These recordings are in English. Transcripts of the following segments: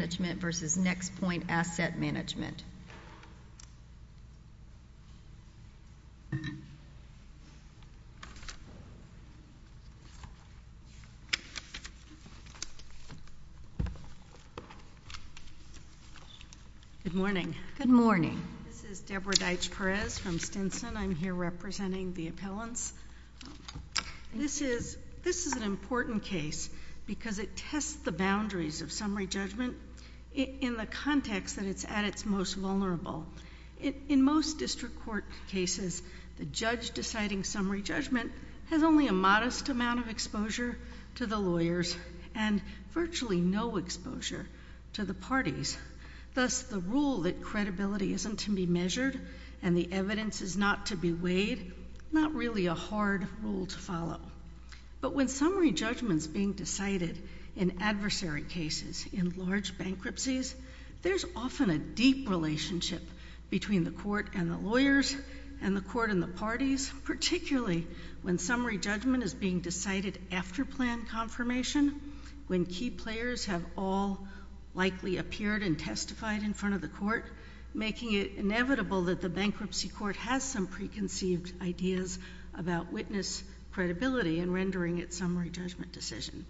Management. Good morning. Good morning. This is Deborah Deitch-Perez from Stinson. I'm here representing the appellants. This is an important case because it tests the boundaries of summary judgment in the context that it's at its most vulnerable. In most district court cases, the judge deciding summary judgment has only a modest amount of exposure to the lawyers and virtually no exposure to the parties. Thus, the rule that credibility isn't to be measured and the evidence is not to be weighed, not really a hard rule to follow. But when summary judgment is being decided in adversary cases, in large bankruptcies, there's often a deep relationship between the court and the lawyers and the court and the parties, particularly when summary judgment is being decided after plan confirmation, when key players have all likely appeared and testified in front of the court, making it inevitable that the bankruptcy court has some preconceived ideas about witness credibility and rendering its summary judgment decision.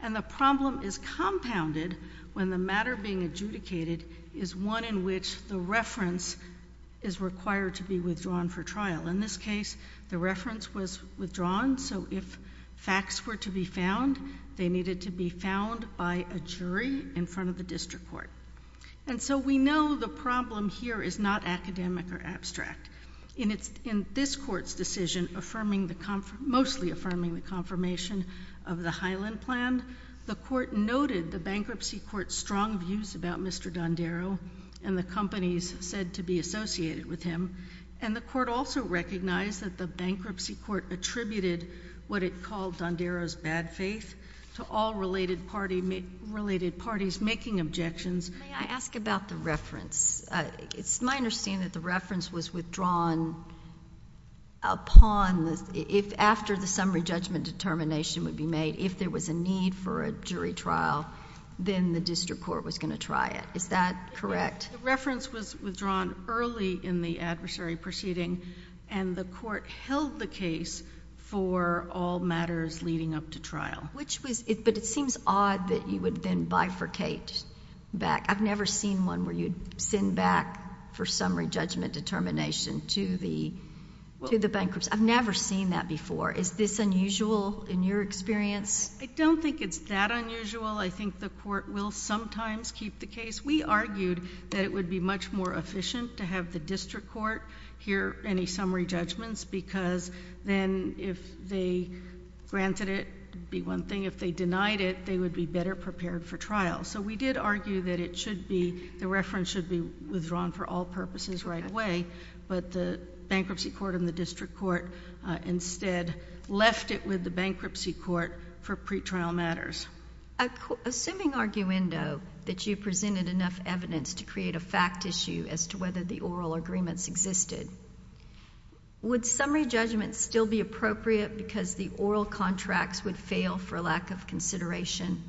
And the problem is compounded when the matter being adjudicated is one in which the reference is required to be withdrawn for trial. In this case, the reference was withdrawn, so if facts were to be found, they needed to be found by a jury in front of the district court. And so we know the problem here is not academic or abstract. In this court's decision, mostly affirming the confirmation of the Highland Plan, the court noted the bankruptcy court's strong views about Mr. Dondero and the companies said to be associated with him, and the court also recognized that the bankruptcy court attributed what it called Dondero's bad faith to all related parties making objections. May I ask about the reference? It's my understanding that the reference was withdrawn upon, if after the summary judgment determination would be made, if there was a need for a jury trial, then the district court was going to try it. Is that correct? The reference was withdrawn early in the adversary proceeding, and the court held the case for all matters leading up to trial. But it seems odd that you would then bifurcate back. I've never seen one where you'd send back for summary judgment determination to the bankruptcy. I've never seen that before. Is this unusual in your experience? I don't think it's that unusual. I think the court will sometimes keep the case. We argued that it would be much more efficient to have the district court hear any summary judgments because then if they granted it, it would be one thing. If they denied it, they would be better prepared for trial. So we did argue that it should be, the reference should be withdrawn for all purposes right away, but the bankruptcy court and the district court instead left it with the bankruptcy court for pretrial matters. Assuming, arguendo, that you presented enough evidence to create a fact issue as to whether the oral agreements existed, would summary judgments still be appropriate because the oral contracts would fail for lack of consideration?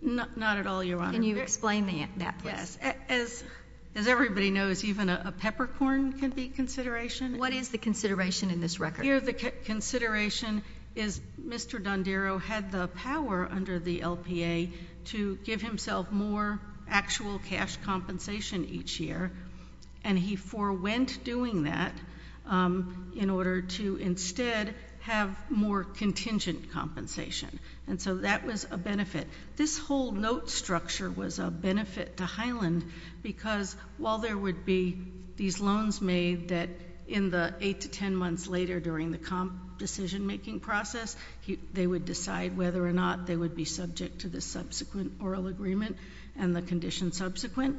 Not at all, Your Honor. Can you explain that, please? Yes. As everybody knows, even a peppercorn can be consideration. What is the consideration in this record? Here the consideration is Mr. Dondero had the power under the LPA to give himself more actual cash compensation each year, and he forewent doing that in order to instead have more contingent compensation, and so that was a benefit. This whole note structure was a benefit to Highland because while there would be these loans made that in the eight to ten months later during the decision-making process, they would decide whether or not they would be subject to the subsequent oral agreement and the conditions subsequent,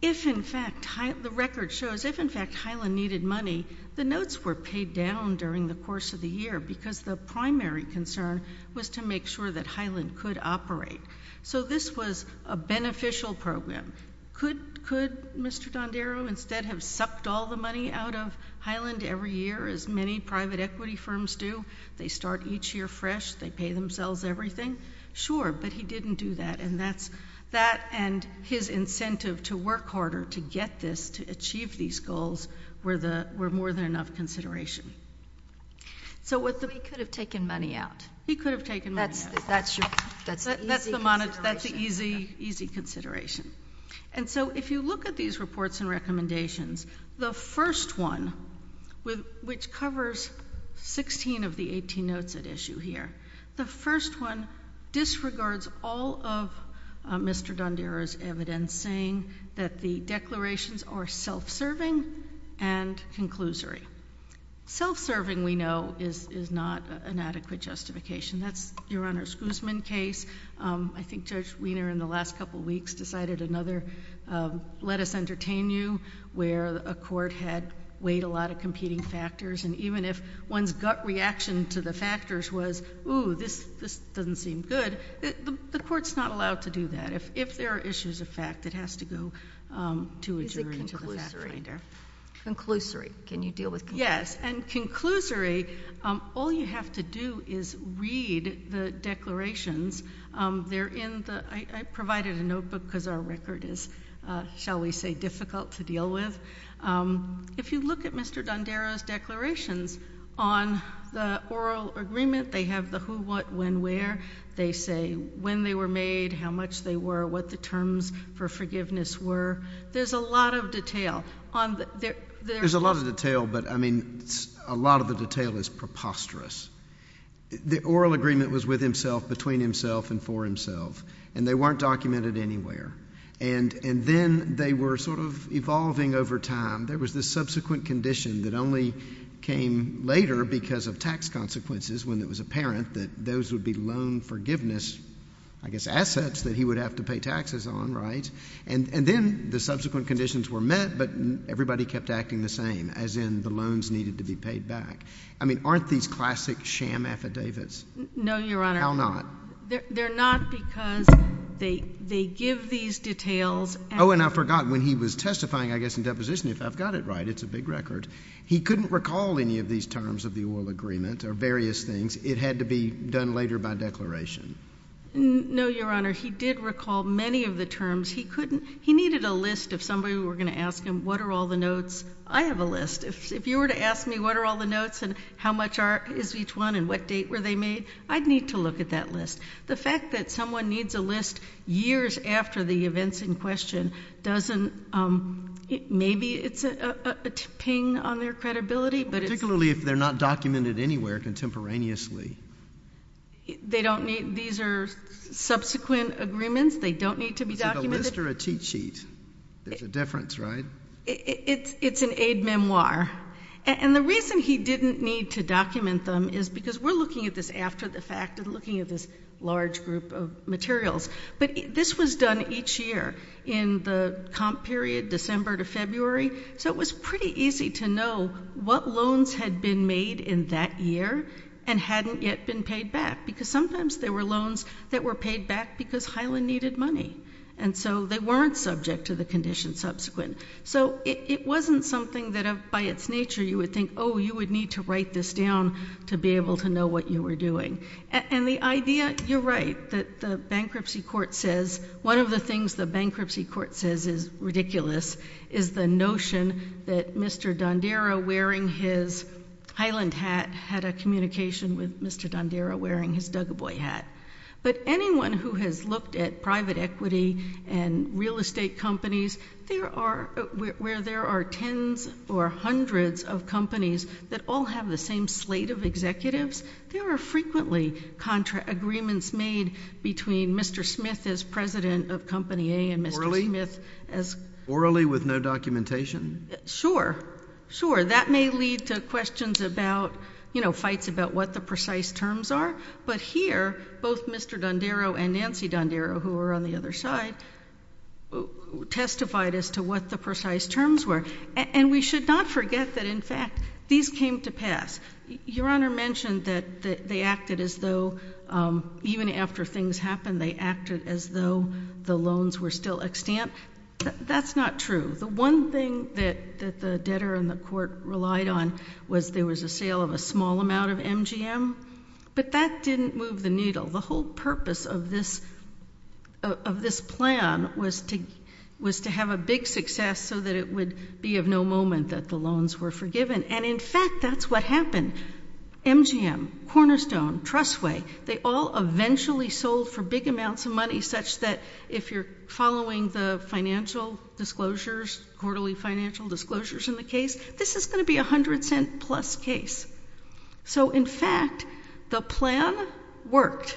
the record shows if in fact Highland needed money, the notes were paid down during the course of the year because the primary concern was to make sure that Highland could operate. So this was a beneficial program. Could Mr. Dondero instead have sucked all the money out of Highland every year, as many private equity firms do? They start each year fresh. They pay themselves everything. Sure, but he didn't do that, and that and his incentive to work harder to get this, to achieve these goals were more than enough consideration. So he could have taken money out. He could have taken money out. That's the easy consideration. And so if you look at these reports and recommendations, the first one, which covers 16 of the 18 notes at issue here, the first one disregards all of Mr. Dondero's evidence saying that the declarations are self-serving and conclusory. Self-serving, we know, is not an adequate justification. That's Your Honor's Guzman case. I think Judge Wiener in the last couple weeks decided another, let us entertain you, where a court had weighed a lot of competing factors, and even if one's gut reaction to the factors was, ooh, this doesn't seem good, the court's not allowed to do that. If there are issues of fact, it has to go to a jury and to the fact finder. Is it conclusory? Conclusory. Can you deal with conclusory? Yes, and conclusory, all you have to do is read the declarations. They're in the—I provided a notebook because our record is, shall we say, difficult to deal with. If you look at Mr. Dondero's declarations on the oral agreement, they have the who, what, when, where. They say when they were made, how much they were, what the terms for forgiveness were. There's a lot of detail. There's a lot of detail, but, I mean, a lot of the detail is preposterous. The oral agreement was with himself, between himself, and for himself, and they weren't documented anywhere. And then they were sort of evolving over time. There was this subsequent condition that only came later because of tax consequences, when it was apparent that those would be loan forgiveness, I guess, assets that he would have to pay taxes on, right? And then the subsequent conditions were met, but everybody kept acting the same, as in the loans needed to be paid back. I mean, aren't these classic sham affidavits? No, Your Honor. How not? They're not because they give these details. Oh, and I forgot, when he was testifying, I guess, in deposition, if I've got it right, it's a big record, he couldn't recall any of these terms of the oral agreement, or various things. It had to be done later by declaration. No, Your Honor. He did recall many of the terms. He needed a list, if somebody were going to ask him, what are all the notes? I have a list. If you were to ask me what are all the notes, and how much is each one, and what date were they made, I'd need to look at that list. The fact that someone needs a list years after the event's in question doesn't, maybe it's a ping on their credibility, but it's... Particularly if they're not documented anywhere contemporaneously. They don't need, these are subsequent agreements, they don't need to be documented. Is it a list or a cheat sheet? There's a difference, right? It's an aid memoir. And the reason he didn't need to document them is because we're looking at this after the fact, and looking at this large group of materials. But this was done each year, in the comp period, December to February, so it was pretty easy to know what loans had been made in that year, and hadn't yet been paid back. Because sometimes there were loans that were paid back because Hyland needed money. And so they weren't subject to the conditions subsequent. So it wasn't something that by its nature you would think, you would need to write this down to be able to know what you were doing. And the idea, you're right, that the bankruptcy court says, one of the things the bankruptcy court says is ridiculous, is the notion that Mr. Dondera wearing his Hyland hat had a communication with Mr. Dondera wearing his Duggar boy hat. But anyone who has looked at private equity and real estate companies, where there are tens or hundreds of companies that all have the same slate of executives, there are frequently agreements made between Mr. Smith as president of company A and Mr. Smith as— Orally? Orally with no documentation? Sure. Sure. That may lead to questions about, you know, fights about what the precise terms are. But here, both Mr. Dondera and Nancy Dondera, who were on the other side, testified as to what the precise terms were. And we should not forget that, in fact, these came to pass. Your Honor mentioned that they acted as though, even after things happened, they acted as though the loans were still extant. That's not true. The one thing that the debtor and the court relied on was there was a sale of a small amount of MGM. But that didn't move the needle. The whole purpose of this plan was to have a big success so that it would be of no moment that the loans were forgiven. And, in fact, that's what happened. MGM, Cornerstone, Trustway, they all eventually sold for big amounts of money, such that, if you're following the financial disclosures, quarterly financial disclosures in the case, this is going to be a hundred-cent-plus case. So, in fact, the plan worked.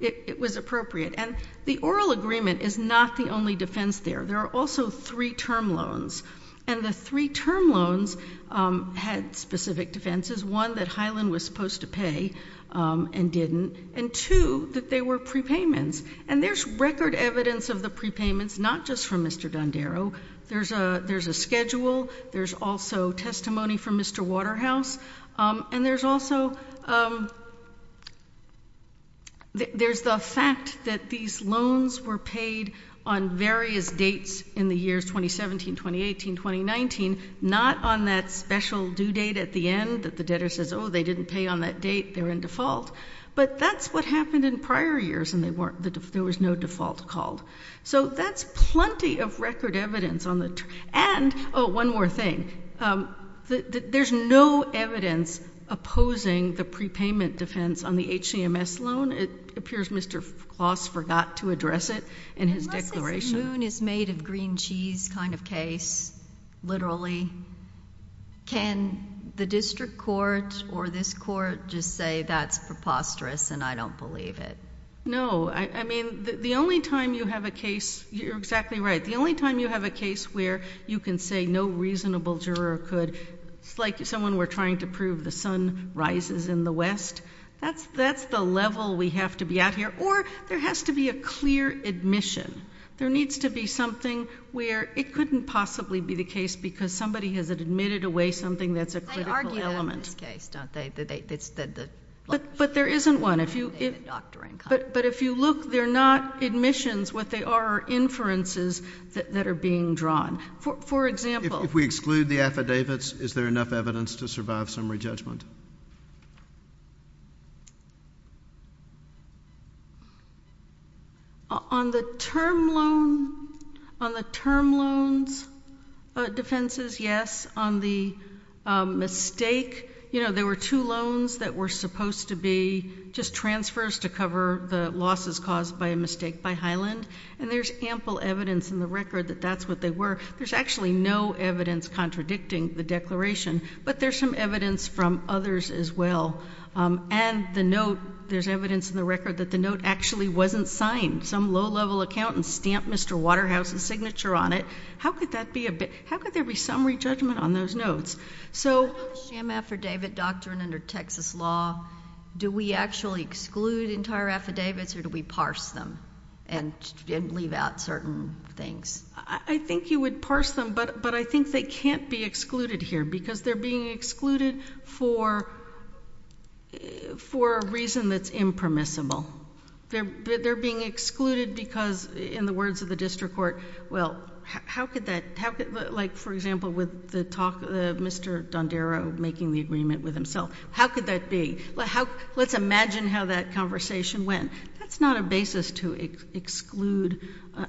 It was appropriate. And the oral agreement is not the only defense there. There are also three-term loans. And the three-term loans had specific defenses. One, that Highland was supposed to pay and didn't. And, two, that they were prepayments. And there's record evidence of the prepayments, not just from Mr. Dondero. There's a schedule. There's also testimony from Mr. Waterhouse. And there's also, there's the fact that these loans were paid on various dates in the years 2017, 2018, 2019, not on that special due date at the end that the debtor says, oh, they didn't pay on that date, they're in default. But that's what happened in prior years, and there was no default called. So, that's plenty of record evidence. And, oh, one more thing. There's no evidence opposing the prepayment defense on the HCMS loan. It appears Mr. Kloss forgot to address it in his declaration. Unless it's a moon is made of green cheese kind of case, literally, can the district court or this court just say that's preposterous and I don't believe it? No. I mean, the only time you have a case, you're exactly right. The only time you have a case where you can say no reasonable juror could, like someone we're trying to prove the sun rises in the west, that's the level we have to be at here. Or, there has to be a clear admission. There needs to be something where it couldn't possibly be the case because somebody has admitted away something that's a critical element. But there isn't one. But if you look, they're not admissions. What they are are inferences that are being drawn. For example... If we exclude the affidavits, is there enough evidence to survive summary judgment? On the term loan, on the term loans defenses, yes. On the mistake, yes. You know, there were two loans that were supposed to be just transfers to cover the losses caused by a mistake by Highland. And there's ample evidence in the record that that's what they were. There's actually no evidence contradicting the declaration. But there's some evidence from others as well. And the note, there's evidence in the record that the note actually wasn't signed. Some low level accountant stamped Mr. Waterhouse's signature on it. How could there be summary judgment on those notes? So in the sham affidavit doctrine under Texas law, do we actually exclude entire affidavits or do we parse them and leave out certain things? I think you would parse them. But I think they can't be excluded here because they're being excluded for a reason that's impermissible. They're being excluded because, in the words of the district court, well, how could that, like, for example, with the talk of Mr. Dondero making the agreement with himself, how could that be? Let's imagine how that conversation went. That's not a basis to exclude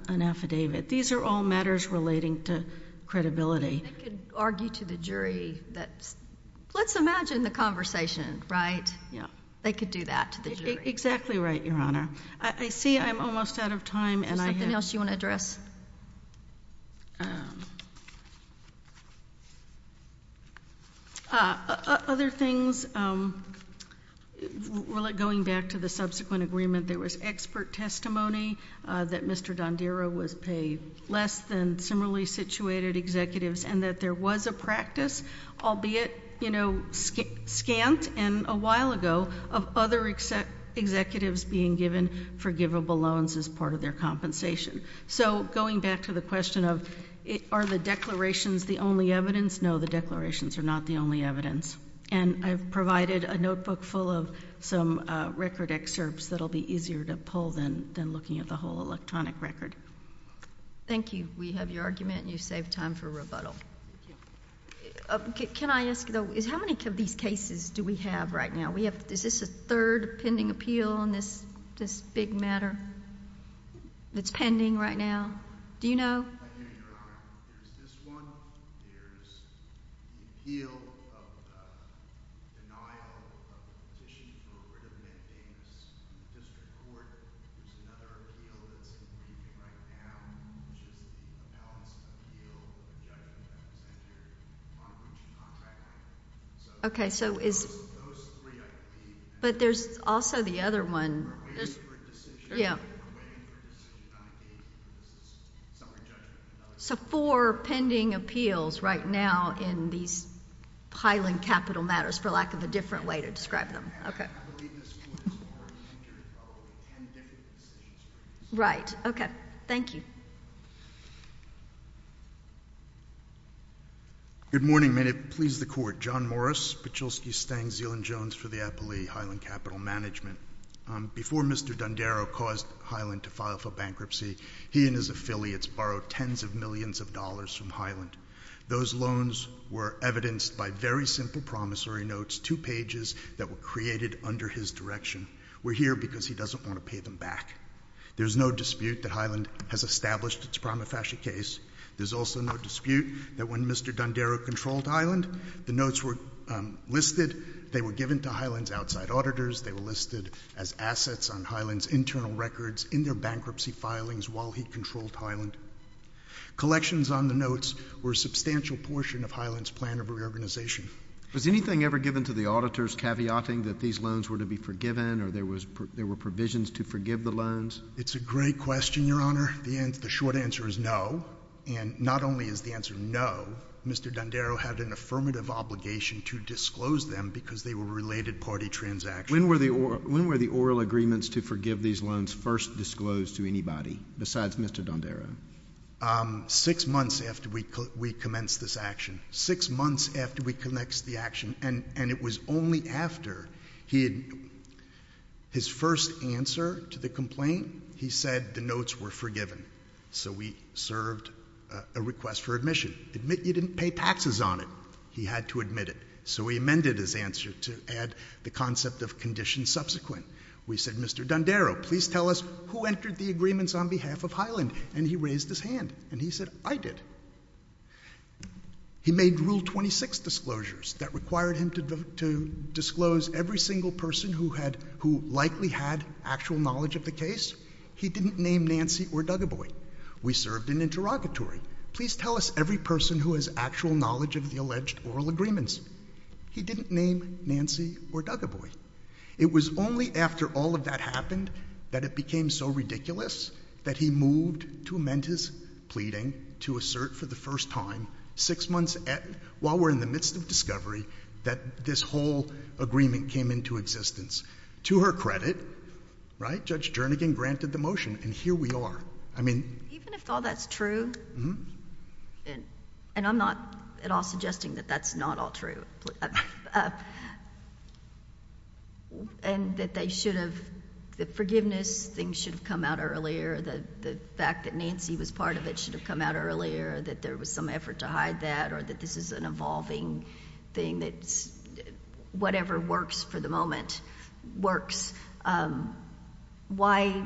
an affidavit. These are all matters relating to credibility. They could argue to the jury that, let's imagine the conversation, right? They could do that to the jury. Exactly right, Your Honor. I see I'm almost out of time. Is there something else you want to address? Other things, going back to the subsequent agreement, there was expert testimony that Mr. Dondero was paid less than similarly situated executives and that there was a practice, albeit, you know, scant and a while ago, of other executives being given forgivable loans as part of their compensation. So going back to the question of are the declarations the only evidence? No, the declarations are not the only evidence. And I've provided a notebook full of some record excerpts that'll be easier to pull than looking at the whole electronic record. Thank you. We have your argument and you've saved time for rebuttal. Can I ask, though, is how many of these cases do we have right now? Is this a third pending appeal on this big matter that's pending right now? Do you know? I can't hear, Your Honor. There's this one. There's the appeal of the denial of the petition for a written amendment in this district court. There's another appeal that's pending right now, which is an announcement of the appeal of the judgment that was entered on which contract. So those three, I believe. But there's also the other one. Yeah. So four pending appeals right now in these Highland Capital matters, for lack of a different way to describe them. Okay. Right. Okay. Thank you. Good morning. May it please the Court. John Morris, Pachulski, Stang, Zeeland, Jones for the Eppley Highland Capital Management. Before Mr. D'Andaro caused Highland to file for bankruptcy, he and his affiliates borrowed tens of millions of dollars from Highland. Those loans were evidenced by very simple promissory notes, two pages that were created under his direction. We're here because he doesn't want to pay them back. There's no dispute that Highland has established its prima facie case. There's also no dispute that when Mr. D'Andaro controlled Highland, the notes were listed. They were given to Highland's outside auditors. They were listed as assets on Highland's internal records in their bankruptcy filings while he controlled Highland. Collections on the notes were a substantial portion of Highland's plan of reorganization. Was anything ever given to the auditors caveating that these loans were to be forgiven or there were provisions to forgive the loans? It's a great question, Your Honor. The short answer is no. And not only is the answer no, Mr. D'Andaro had an affirmative obligation to disclose them because they were related party transactions. When were the oral agreements to forgive these loans first disclosed to anybody besides Mr. D'Andaro? Six months after we commenced this action. Six months after we commenced the action. And it was only after his first answer to the complaint, he said the notes were forgiven. So we served a request for admission. Admit you didn't pay taxes on it. He had to admit it. So we amended his answer to add the concept of conditions subsequent. We said, Mr. D'Andaro, please tell us who entered the agreements on behalf of Highland. And he raised his hand. And he said, I did. He made Rule 26 disclosures that required him to disclose every single person who likely had actual knowledge of the case. He didn't name Nancy or Duggeboy. We served an interrogatory. Please tell us every person who has actual knowledge of the alleged oral agreements. He didn't name Nancy or Duggeboy. It was only after all of that happened that it became so ridiculous that he moved to amend his pleading to assert for the first time, six months while we're in the midst of discovery, that this whole agreement came into existence. To her credit, Judge Jernigan granted the motion. And here we are. Even if all that's true, and I'm not at all suggesting that that's not all true, and that they should have, the forgiveness thing should have come out earlier, the fact that Nancy was part of it should have come out earlier, that there was some effort to hide that, or that this is an evolving thing, that whatever works for the moment works. Why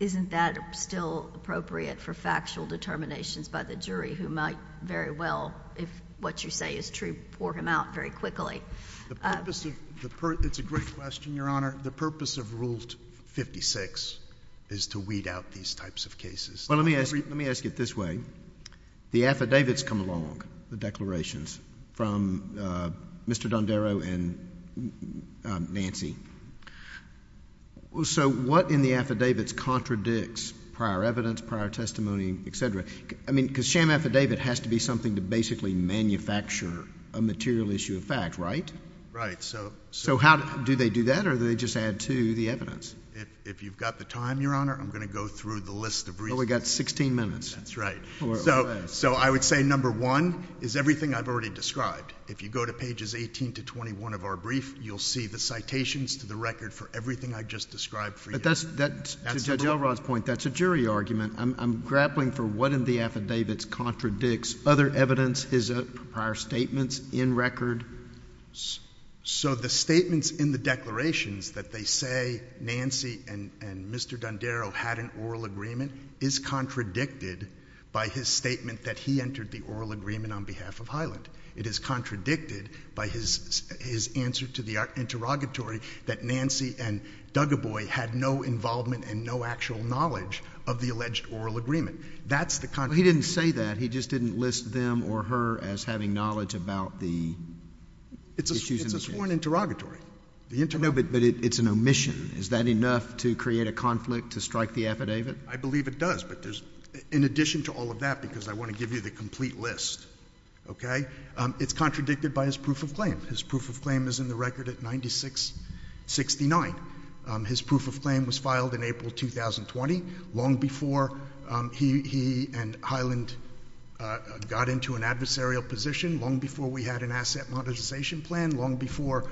isn't that still appropriate for factual determinations by the jury, who might very well, if what you say is true, pour him out very quickly? It's a great question, Your Honor. The purpose of Rule 56 is to weed out these types of cases. Well, let me ask it this way. The affidavits come along, the declarations, from Mr. Dondero and Nancy. So what in the affidavits contradicts prior evidence, prior testimony, et cetera? I mean, because sham affidavit has to be something to basically manufacture a material issue of fact, right? Right. So how do they do that, or do they just add to the evidence? If you've got the time, Your Honor, I'm going to go through the list of reasons. Well, we've got 16 minutes. That's right. So I would say number one is everything I've already described. If you go to pages 18 to 21 of our brief, you'll see the citations to the record for everything I just described for you. But that's, to Judge Elrod's point, that's a jury argument. I'm grappling for what in the affidavits contradicts other evidence, his prior statements, in record. So the statements in the declarations that they say Nancy and Mr. Dondero had an oral agreement is contradicted by his statement that he entered the oral agreement on behalf of Hyland. It is contradicted by his answer to the interrogatory that Nancy and Duggeboy had no involvement and no actual knowledge of the alleged oral agreement. That's the contradiction. Well, he didn't say that. He just didn't list them or her as having knowledge about the issues in the case. It's a sworn interrogatory. No, but it's an omission. Is that enough to create a conflict to strike the affidavit? I believe it does, but in addition to all of that, because I want to give you the complete list, okay, it's contradicted by his proof of claim. His proof of claim is in the record at 9669. His proof of claim was filed in April 2020, long before he and Hyland got into an adversarial position, long before we had an asset monetization plan, long before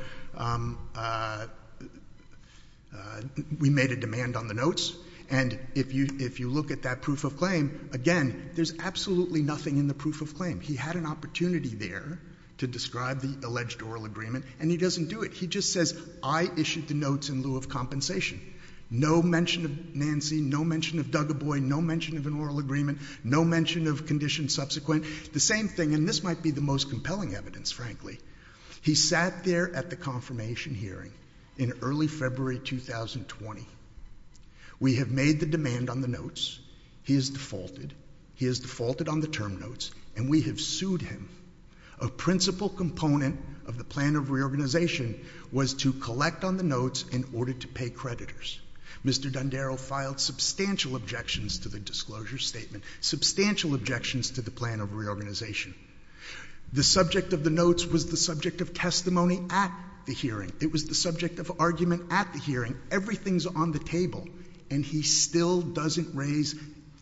we made a demand on the notes. And if you look at that proof of claim, again, there's absolutely nothing in the proof of claim. He had an opportunity there to describe the alleged oral agreement, and he doesn't do it. He just says, I issued the notes in lieu of compensation. No mention of Nancy, no mention of Dougaboy, no mention of an oral agreement, no mention of condition subsequent. The same thing, and this might be the most compelling evidence, frankly. He sat there at the confirmation hearing in early February 2020. We have made the demand on the notes. He has defaulted. He has defaulted on the term notes, and we have sued him. A principal component of the plan of reorganization was to collect on the notes in order to pay creditors. Mr. Dondero filed substantial objections to the disclosure statement, substantial objections to the plan of reorganization. The subject of the notes was the subject of testimony at the hearing. It was the subject of argument at the hearing. Everything's on the table, and he still doesn't raise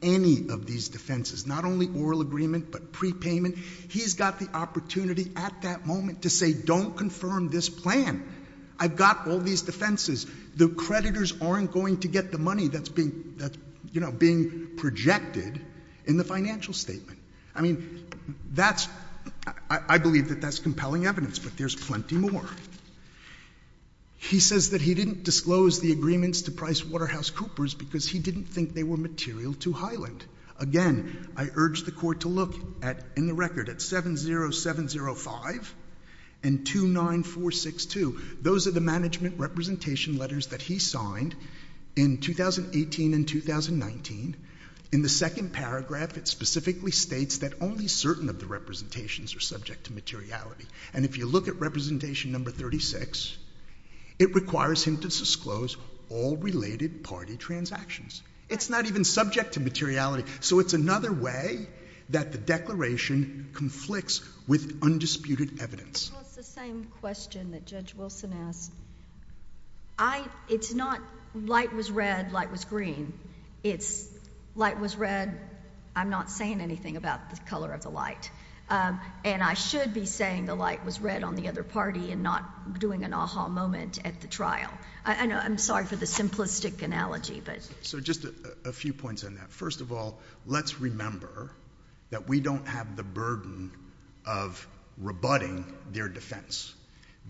any of these defenses, not only oral agreement but prepayment. He's got the opportunity at that moment to say, don't confirm this plan. I've got all these defenses. The creditors aren't going to get the money that's being projected in the financial statement. I mean, that's — I believe that that's compelling evidence, but there's plenty more. He says that he didn't disclose the agreements to Price Waterhouse Coopers because he didn't think they were material to Highland. Again, I urge the court to look at, in the record, at 70705 and 29462. Those are the management representation letters that he signed in 2018 and 2019. In the second paragraph, it specifically states that only certain of the representations are subject to materiality. And if you look at representation number 36, it requires him to disclose all related party transactions. It's not even subject to materiality. So it's another way that the declaration conflicts with undisputed evidence. Well, it's the same question that Judge Wilson asked. I — it's not light was red, light was green. It's light was red, I'm not saying anything about the color of the light. And I should be saying the light was red on the other party and not doing an aha moment at the trial. I'm sorry for the simplistic analogy, but — So just a few points on that. First of all, let's remember that we don't have the burden of rebutting their defense.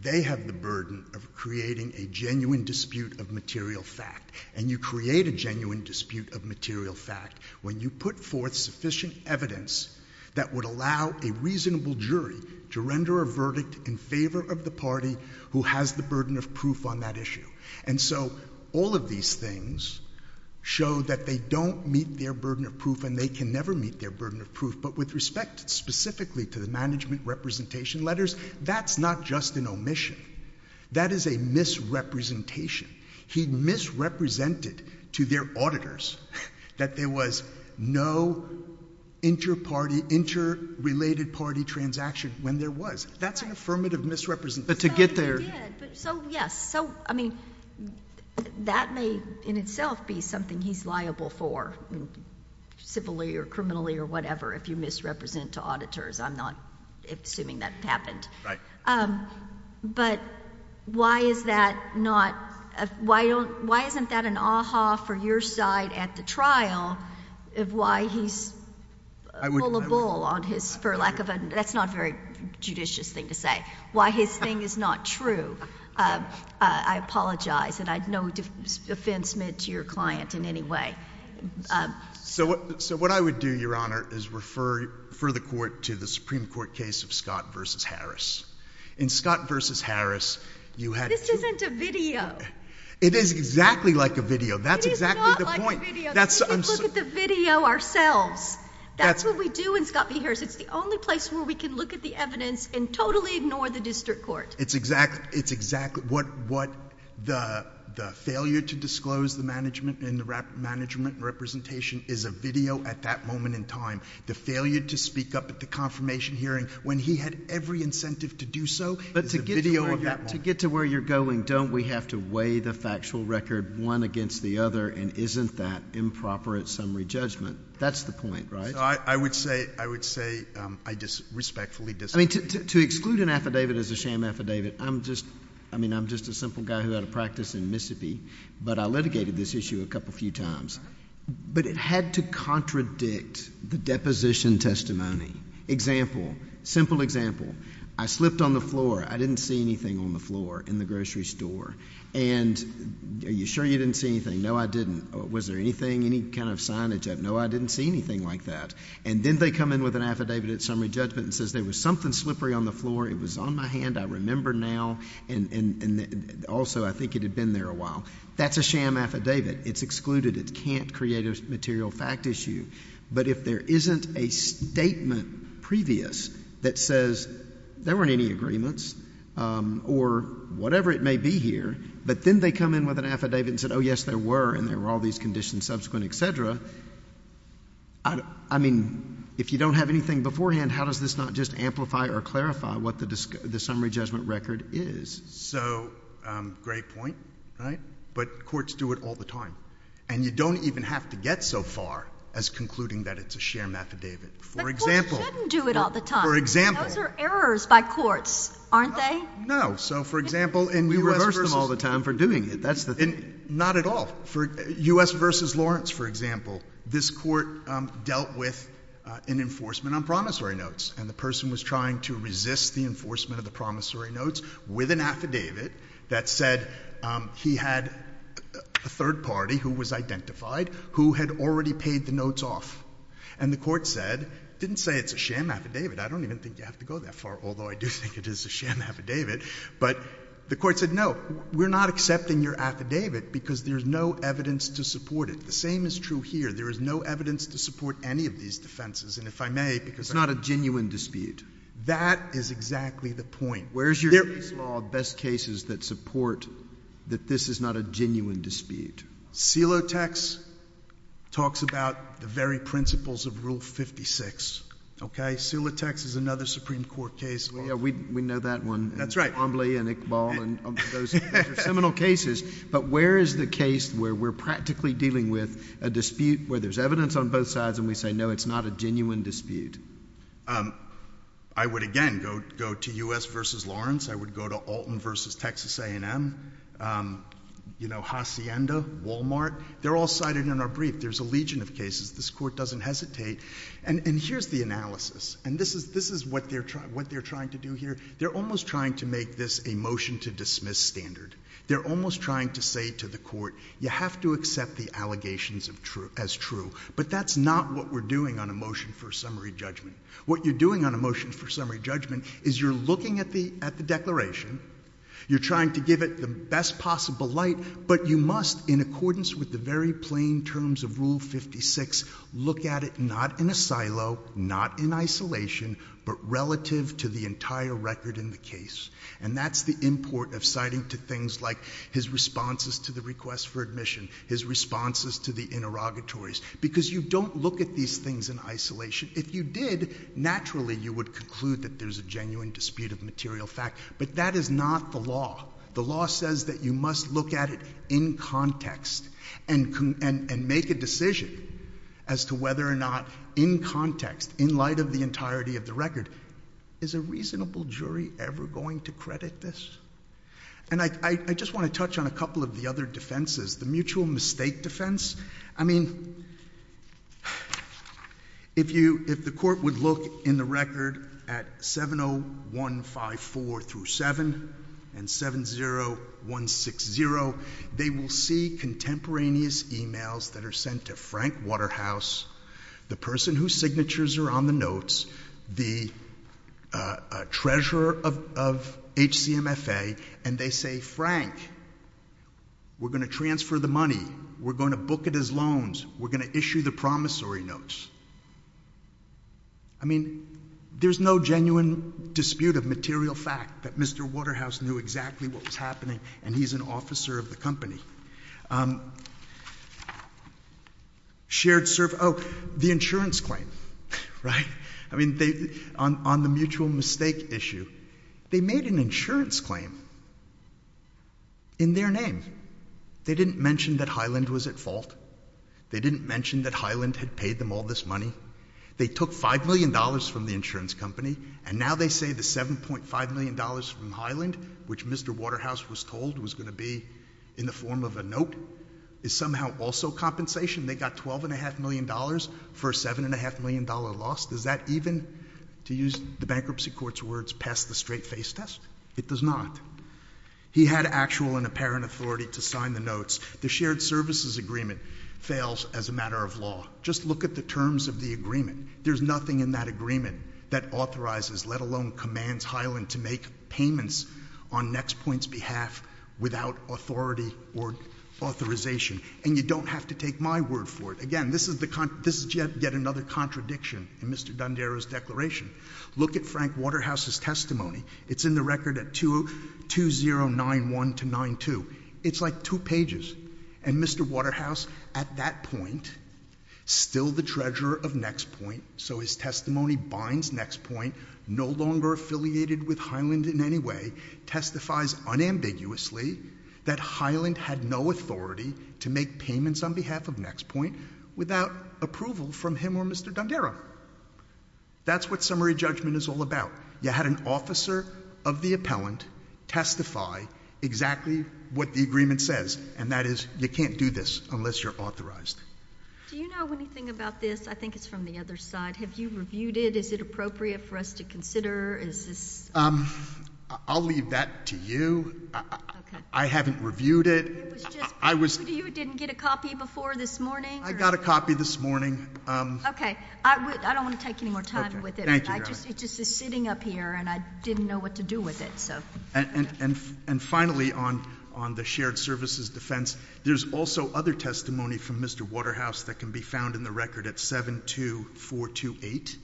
They have the burden of creating a genuine dispute of material fact. And you create a genuine dispute of material fact when you put forth sufficient evidence that would allow a reasonable jury to render a verdict in favor of the party who has the burden of proof on that issue. And so all of these things show that they don't meet their burden of proof and they can never meet their burden of proof. But with respect specifically to the management representation letters, that's not just an omission. That is a misrepresentation. He misrepresented to their auditors that there was no interparty — interrelated party transaction when there was. That's an affirmative misrepresentation. But to get there — So, yes. So, I mean, that may in itself be something he's liable for civilly or criminally or whatever if you misrepresent to auditors. I'm not assuming that happened. Right. But why is that not — why isn't that an aha for your side at the trial of why he's — I wouldn't —— full of bull on his — for lack of a — that's not a very judicious thing to say. Why his thing is not true. I apologize. And I have no offense meant to your client in any way. So what I would do, Your Honor, is refer the court to the Supreme Court case of Scott v. Harris. In Scott v. Harris, you had — This isn't a video. It is exactly like a video. That's exactly the point. It is not like a video. We can look at the video ourselves. That's what we do in Scott v. Harris. It's the only place where we can look at the evidence and totally ignore the district court. It's exactly — it's exactly what the failure to disclose the management and the management representation is a video at that moment in time. The failure to speak up at the confirmation hearing when he had every incentive to do so is a video of that moment. But to get to where you're going, don't we have to weigh the factual record one against the other, and isn't that improper at summary judgment? That's the point, right? I would say I respectfully disagree. I mean, to exclude an affidavit as a sham affidavit, I'm just — I mean, I'm just a simple guy who had a practice in Mississippi, but I litigated this issue a couple few times. But it had to contradict the deposition testimony. Example, simple example. I slipped on the floor. I didn't see anything on the floor in the grocery store. And are you sure you didn't see anything? No, I didn't. Was there anything, any kind of signage? No, I didn't see anything like that. And then they come in with an affidavit at summary judgment and says there was something slippery on the floor, it was on my hand, I remember now, and also I think it had been there a while. That's a sham affidavit. It's excluded. It can't create a material fact issue. But if there isn't a statement previous that says there weren't any agreements or whatever it may be here, but then they come in with an affidavit and say, oh, yes, there were, and there were all these conditions subsequent, et cetera, I mean, if you don't have anything beforehand, how does this not just amplify or clarify what the summary judgment record is? So, great point, right? But courts do it all the time. And you don't even have to get so far as concluding that it's a sham affidavit. But courts shouldn't do it all the time. For example. Those are errors by courts, aren't they? No. So, for example, in U.S. versus... We reverse them all the time for doing it. That's the thing. Not at all. For U.S. versus Lawrence, for example, this court dealt with an enforcement on promissory notes. And the person was trying to resist the enforcement of the promissory notes with an affidavit that said he had a third party who was identified who had already paid the notes off. And the court said, didn't say it's a sham affidavit. I don't even think you have to go that far, although I do think it is a sham affidavit. But the court said, no, we're not accepting your affidavit because there's no evidence to support it. The same is true here. There is no evidence to support any of these defenses. And if I may... It's not a genuine dispute. That is exactly the point. Where is your case law best cases that support that this is not a genuine dispute? Selotex talks about the very principles of Rule 56. Okay? Selotex is another Supreme Court case law. Yeah. We know that one. That's right. And Ombly and Iqbal. Those are seminal cases. But where is the case where we're practically dealing with a dispute where there's evidence on both sides and we say, no, it's not a genuine dispute? I would, again, go to U.S. v. Lawrence. I would go to Alton v. Texas A&M. You know, Hacienda, Walmart. They're all cited in our brief. There's a legion of cases. This court doesn't hesitate. And here's the analysis. And this is what they're trying to do here. They're almost trying to make this a motion to dismiss standard. They're almost trying to say to the court, you have to accept the allegations as true. But that's not what we're doing on a motion for summary judgment. What you're doing on a motion for summary judgment is you're looking at the declaration. You're trying to give it the best possible light. But you must, in accordance with the very plain terms of Rule 56, look at it not in a silo, not in isolation, but relative to the entire record in the case. And that's the import of citing to things like his responses to the request for admission, his responses to the interrogatories. Because you don't look at these things in isolation. If you did, naturally you would conclude that there's a genuine dispute of material fact. But that is not the law. The law says that you must look at it in context and make a decision as to whether or not in context, in light of the entirety of the record, is a reasonable jury ever going to credit this? And I just want to touch on a couple of the other defenses. The mutual mistake defense. I mean, if the court would look in the record at 70154 through 7 and 70160, they will see contemporaneous emails that are sent to Frank Waterhouse, the person whose signatures are on the notes, the treasurer of HCMFA, and they say, Frank, we're going to transfer the money. We're going to book it as loans. We're going to issue the promissory notes. I mean, there's no genuine dispute of material fact that Mr. Waterhouse knew exactly what was happening and he's an officer of the company. Shared service. Oh, the insurance claim. Right? I mean, on the mutual mistake issue, they made an insurance claim in their name. They didn't mention that Highland was at fault. They didn't mention that Highland had paid them all this money. They took $5 million from the insurance company and now they say the $7.5 million from Highland, which Mr. Waterhouse was told was going to be in the form of a note, is somehow also compensation. They got $12.5 million for a $7.5 million loss. Does that even, to use the bankruptcy court's words, pass the straight face test? It does not. He had actual and apparent authority to sign the notes. The shared services agreement fails as a matter of law. Just look at the terms of the agreement. There's nothing in that agreement that authorizes, let alone commands, Highland to make payments on NextPoint's behalf without authority or authorization. And you don't have to take my word for it. Again, this is yet another contradiction in Mr. Dondero's declaration. Look at Frank Waterhouse's testimony. It's in the record at 2091-92. It's like two pages. And Mr. Waterhouse, at that point, still the treasurer of NextPoint, so his testimony binds NextPoint, no longer affiliated with Highland in any way, testifies unambiguously that Highland had no authority to make payments on behalf of NextPoint without approval from him or Mr. Dondero. That's what summary judgment is all about. You had an officer of the appellant testify exactly what the agreement says, and that is you can't do this unless you're authorized. Do you know anything about this? I think it's from the other side. Have you reviewed it? Is it appropriate for us to consider? Is this? I'll leave that to you. Okay. I haven't reviewed it. It was just given to you. It didn't get a copy before this morning? I got a copy this morning. Okay. I don't want to take any more time with it. Thank you, Your Honor. It just is sitting up here, and I didn't know what to do with it. And finally, on the shared services defense, there's also other testimony from Mr. Waterhouse that can be found in the record at 72428,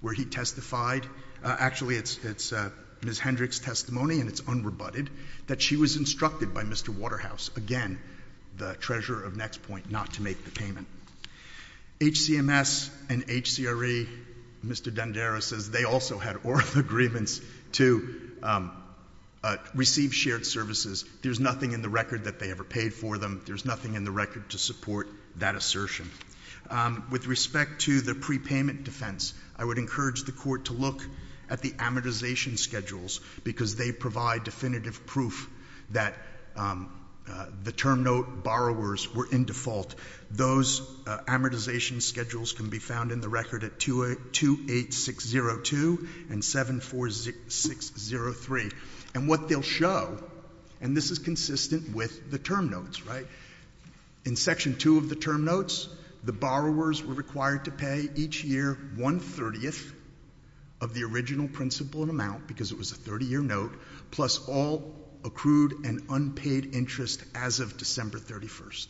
where he testified. Actually, it's Ms. Hendrick's testimony, and it's unrebutted, that she was instructed by Mr. Waterhouse, again, the treasurer of NextPoint, not to make the payment. HCMS and HCRE, Mr. Dandera says they also had oral agreements to receive shared services. There's nothing in the record that they ever paid for them. There's nothing in the record to support that assertion. With respect to the prepayment defense, I would encourage the Court to look at the amortization schedules, because they provide definitive proof that the term note borrowers were in default. Those amortization schedules can be found in the record at 28602 and 74603. And what they'll show, and this is consistent with the term notes, right? In Section 2 of the term notes, the borrowers were required to pay each year one-thirtieth of the original principal amount, because it was a 30-year note, plus all accrued and unpaid interest as of December 31st.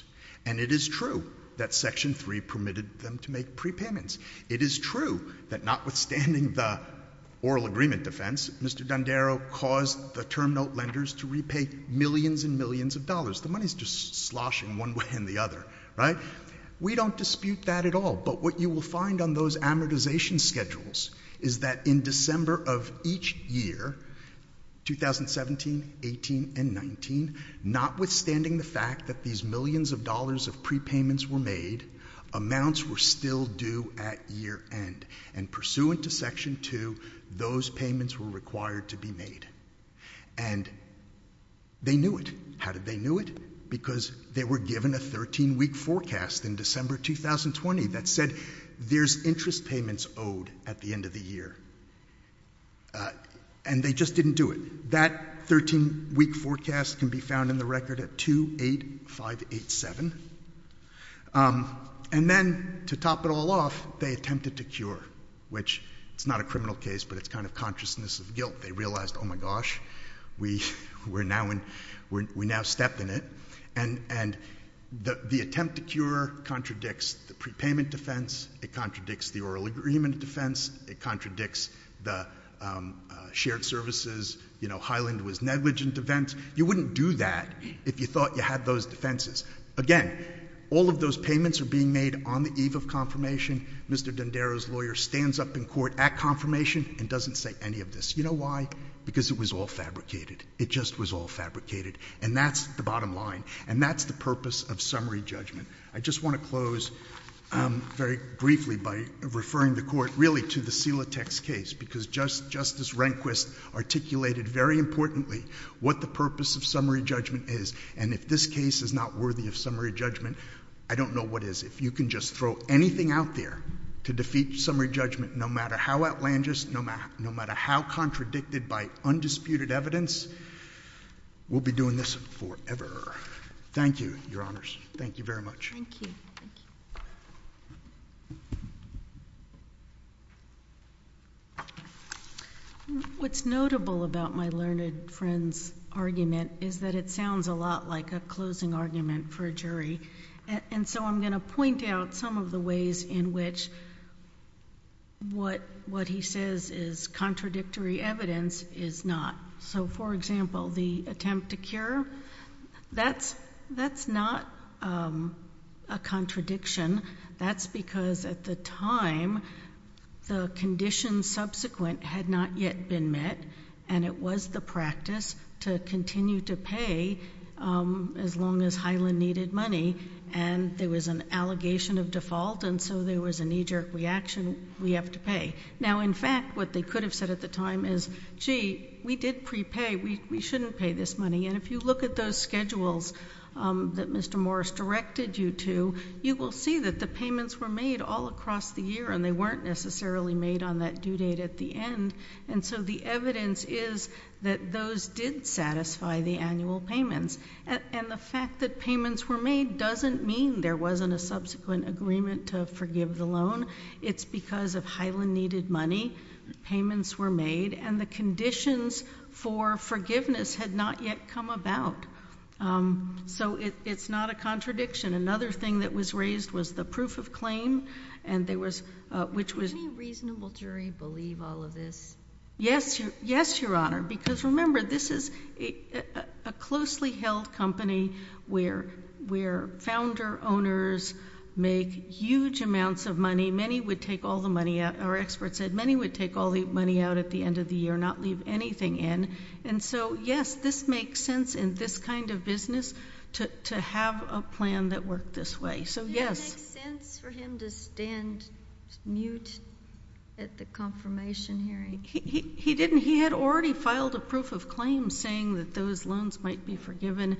And it is true that Section 3 permitted them to make prepayments. It is true that notwithstanding the oral agreement defense, Mr. Dandera caused the term note lenders to repay millions and millions of dollars. The money's just sloshing one way and the other, right? We don't dispute that at all. But what you will find on those amortization schedules is that in December of each year, 2017, 18, and 19, notwithstanding the fact that these millions of dollars of prepayments were made, amounts were still due at year end. And pursuant to Section 2, those payments were required to be made. And they knew it. How did they know it? Because they were given a 13-week forecast in December 2020 that said there's interest payments owed at the end of the year. And they just didn't do it. That 13-week forecast can be found in the record at 28587. And then, to top it all off, they attempted to cure, which is not a criminal case, but it's kind of consciousness of guilt. They realized, oh, my gosh, we now step in it. And the attempt to cure contradicts the prepayment defense. It contradicts the oral agreement defense. It contradicts the shared services, you know, Highland was negligent defense. You wouldn't do that if you thought you had those defenses. Again, all of those payments are being made on the eve of confirmation. Mr. D'Andaro's lawyer stands up in court at confirmation and doesn't say any of this. You know why? Because it was all fabricated. It just was all fabricated. And that's the bottom line. And that's the purpose of summary judgment. I just want to close very briefly by referring the Court, really, to the Silatex case. Because Justice Rehnquist articulated very importantly what the purpose of summary judgment is. And if this case is not worthy of summary judgment, I don't know what is. If you can just throw anything out there to defeat summary judgment, no matter how outlandish, no matter how contradicted by undisputed evidence, we'll be doing this forever. Thank you, Your Honors. Thank you very much. Thank you. What's notable about my learned friend's argument is that it sounds a lot like a closing argument for a jury. And so I'm going to point out some of the ways in which what he says is contradictory evidence is not. So, for example, the attempt to cure, that's not a contradiction. That's because at the time, the conditions subsequent had not yet been met, and it was the practice to continue to pay as long as Highland needed money. And there was an allegation of default, and so there was a knee-jerk reaction, we have to pay. Now, in fact, what they could have said at the time is, gee, we did prepay. We shouldn't pay this money. And if you look at those schedules that Mr. Morris directed you to, you will see that the payments were made all across the year, and they weren't necessarily made on that due date at the end. And so the evidence is that those did satisfy the annual payments. And the fact that payments were made doesn't mean there wasn't a subsequent agreement to forgive the loan. It's because of Highland needed money. Payments were made, and the conditions for forgiveness had not yet come about. So it's not a contradiction. Another thing that was raised was the proof of claim, which was— Does the humble jury believe all of this? Yes, Your Honor, because remember, this is a closely held company where founder-owners make huge amounts of money. Many would take all the money out. Our expert said many would take all the money out at the end of the year, not leave anything in. And so, yes, this makes sense in this kind of business to have a plan that worked this way. So, yes. Did it make sense for him to stand mute at the confirmation hearing? He didn't. He had already filed a proof of claim saying that those loans might be forgiven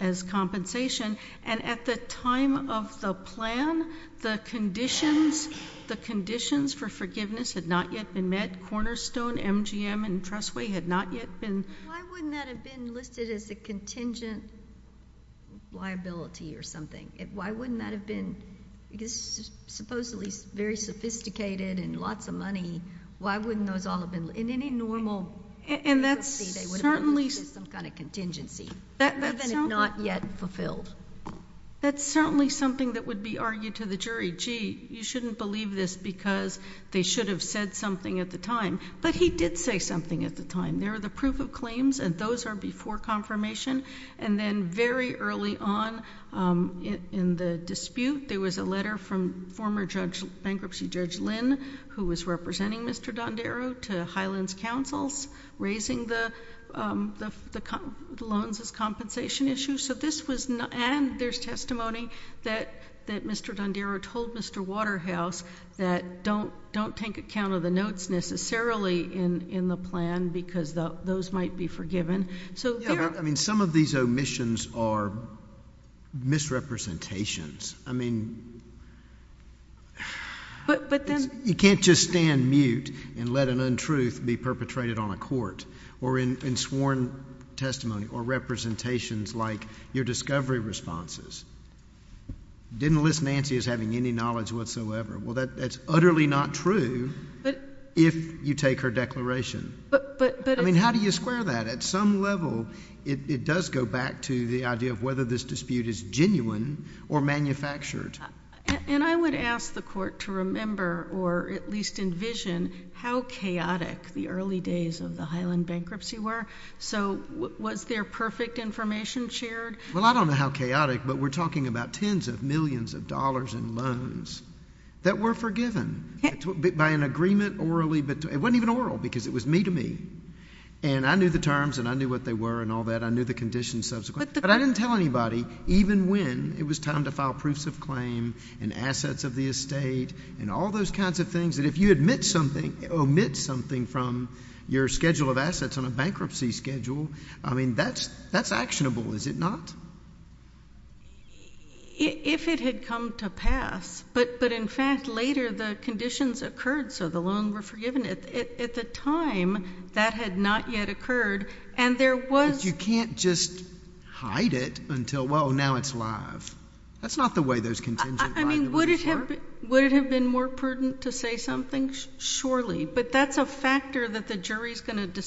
as compensation. And at the time of the plan, the conditions for forgiveness had not yet been met. Cornerstone, MGM, and Trustway had not yet been— Why wouldn't that have been listed as a contingent liability or something? Why wouldn't that have been—because it's supposedly very sophisticated and lots of money. Why wouldn't those all have been—in any normal bankruptcy, they would have been listed as some kind of contingency? That's certainly— Even if not yet fulfilled. That's certainly something that would be argued to the jury. Gee, you shouldn't believe this because they should have said something at the time. But he did say something at the time. There are the proof of claims, and those are before confirmation. And then very early on in the dispute, there was a letter from former bankruptcy judge Lynn, who was representing Mr. Dondero, to Highland's counsels raising the loans as compensation issue. And there's testimony that Mr. Dondero told Mr. Waterhouse that don't take account of the notes necessarily in the plan because those might be forgiven. Some of these omissions are misrepresentations. I mean, you can't just stand mute and let an untruth be perpetrated on a court or in sworn testimony or representations like your discovery responses. Didn't list Nancy as having any knowledge whatsoever. Well, that's utterly not true if you take her declaration. I mean, how do you square that? At some level, it does go back to the idea of whether this dispute is genuine or manufactured. And I would ask the Court to remember or at least envision how chaotic the early days of the Highland bankruptcy were. So was there perfect information shared? Well, I don't know how chaotic, but we're talking about tens of millions of dollars in loans that were forgiven by an agreement orally. It wasn't even oral because it was me to me. And I knew the terms, and I knew what they were and all that. I knew the conditions subsequently. But I didn't tell anybody, even when it was time to file proofs of claim and assets of the estate and all those kinds of things, that if you omit something from your schedule of assets on a bankruptcy schedule, I mean, that's actionable, is it not? If it had come to pass. But, in fact, later the conditions occurred so the loans were forgiven. At the time, that had not yet occurred. And there was — But you can't just hide it until, well, now it's live. That's not the way those contingent guidelines work. I mean, would it have been more prudent to say something? Surely. But that's a factor that the jury is going to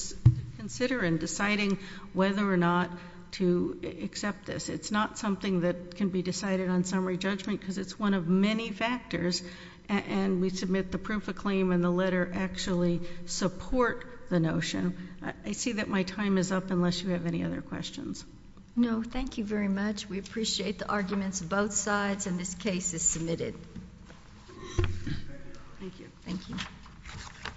consider in deciding whether or not to accept this. It's not something that can be decided on summary judgment because it's one of many factors. And we submit the proof of claim and the letter actually support the notion. I see that my time is up unless you have any other questions. No, thank you very much. We appreciate the arguments of both sides, and this case is submitted. Thank you. Thank you.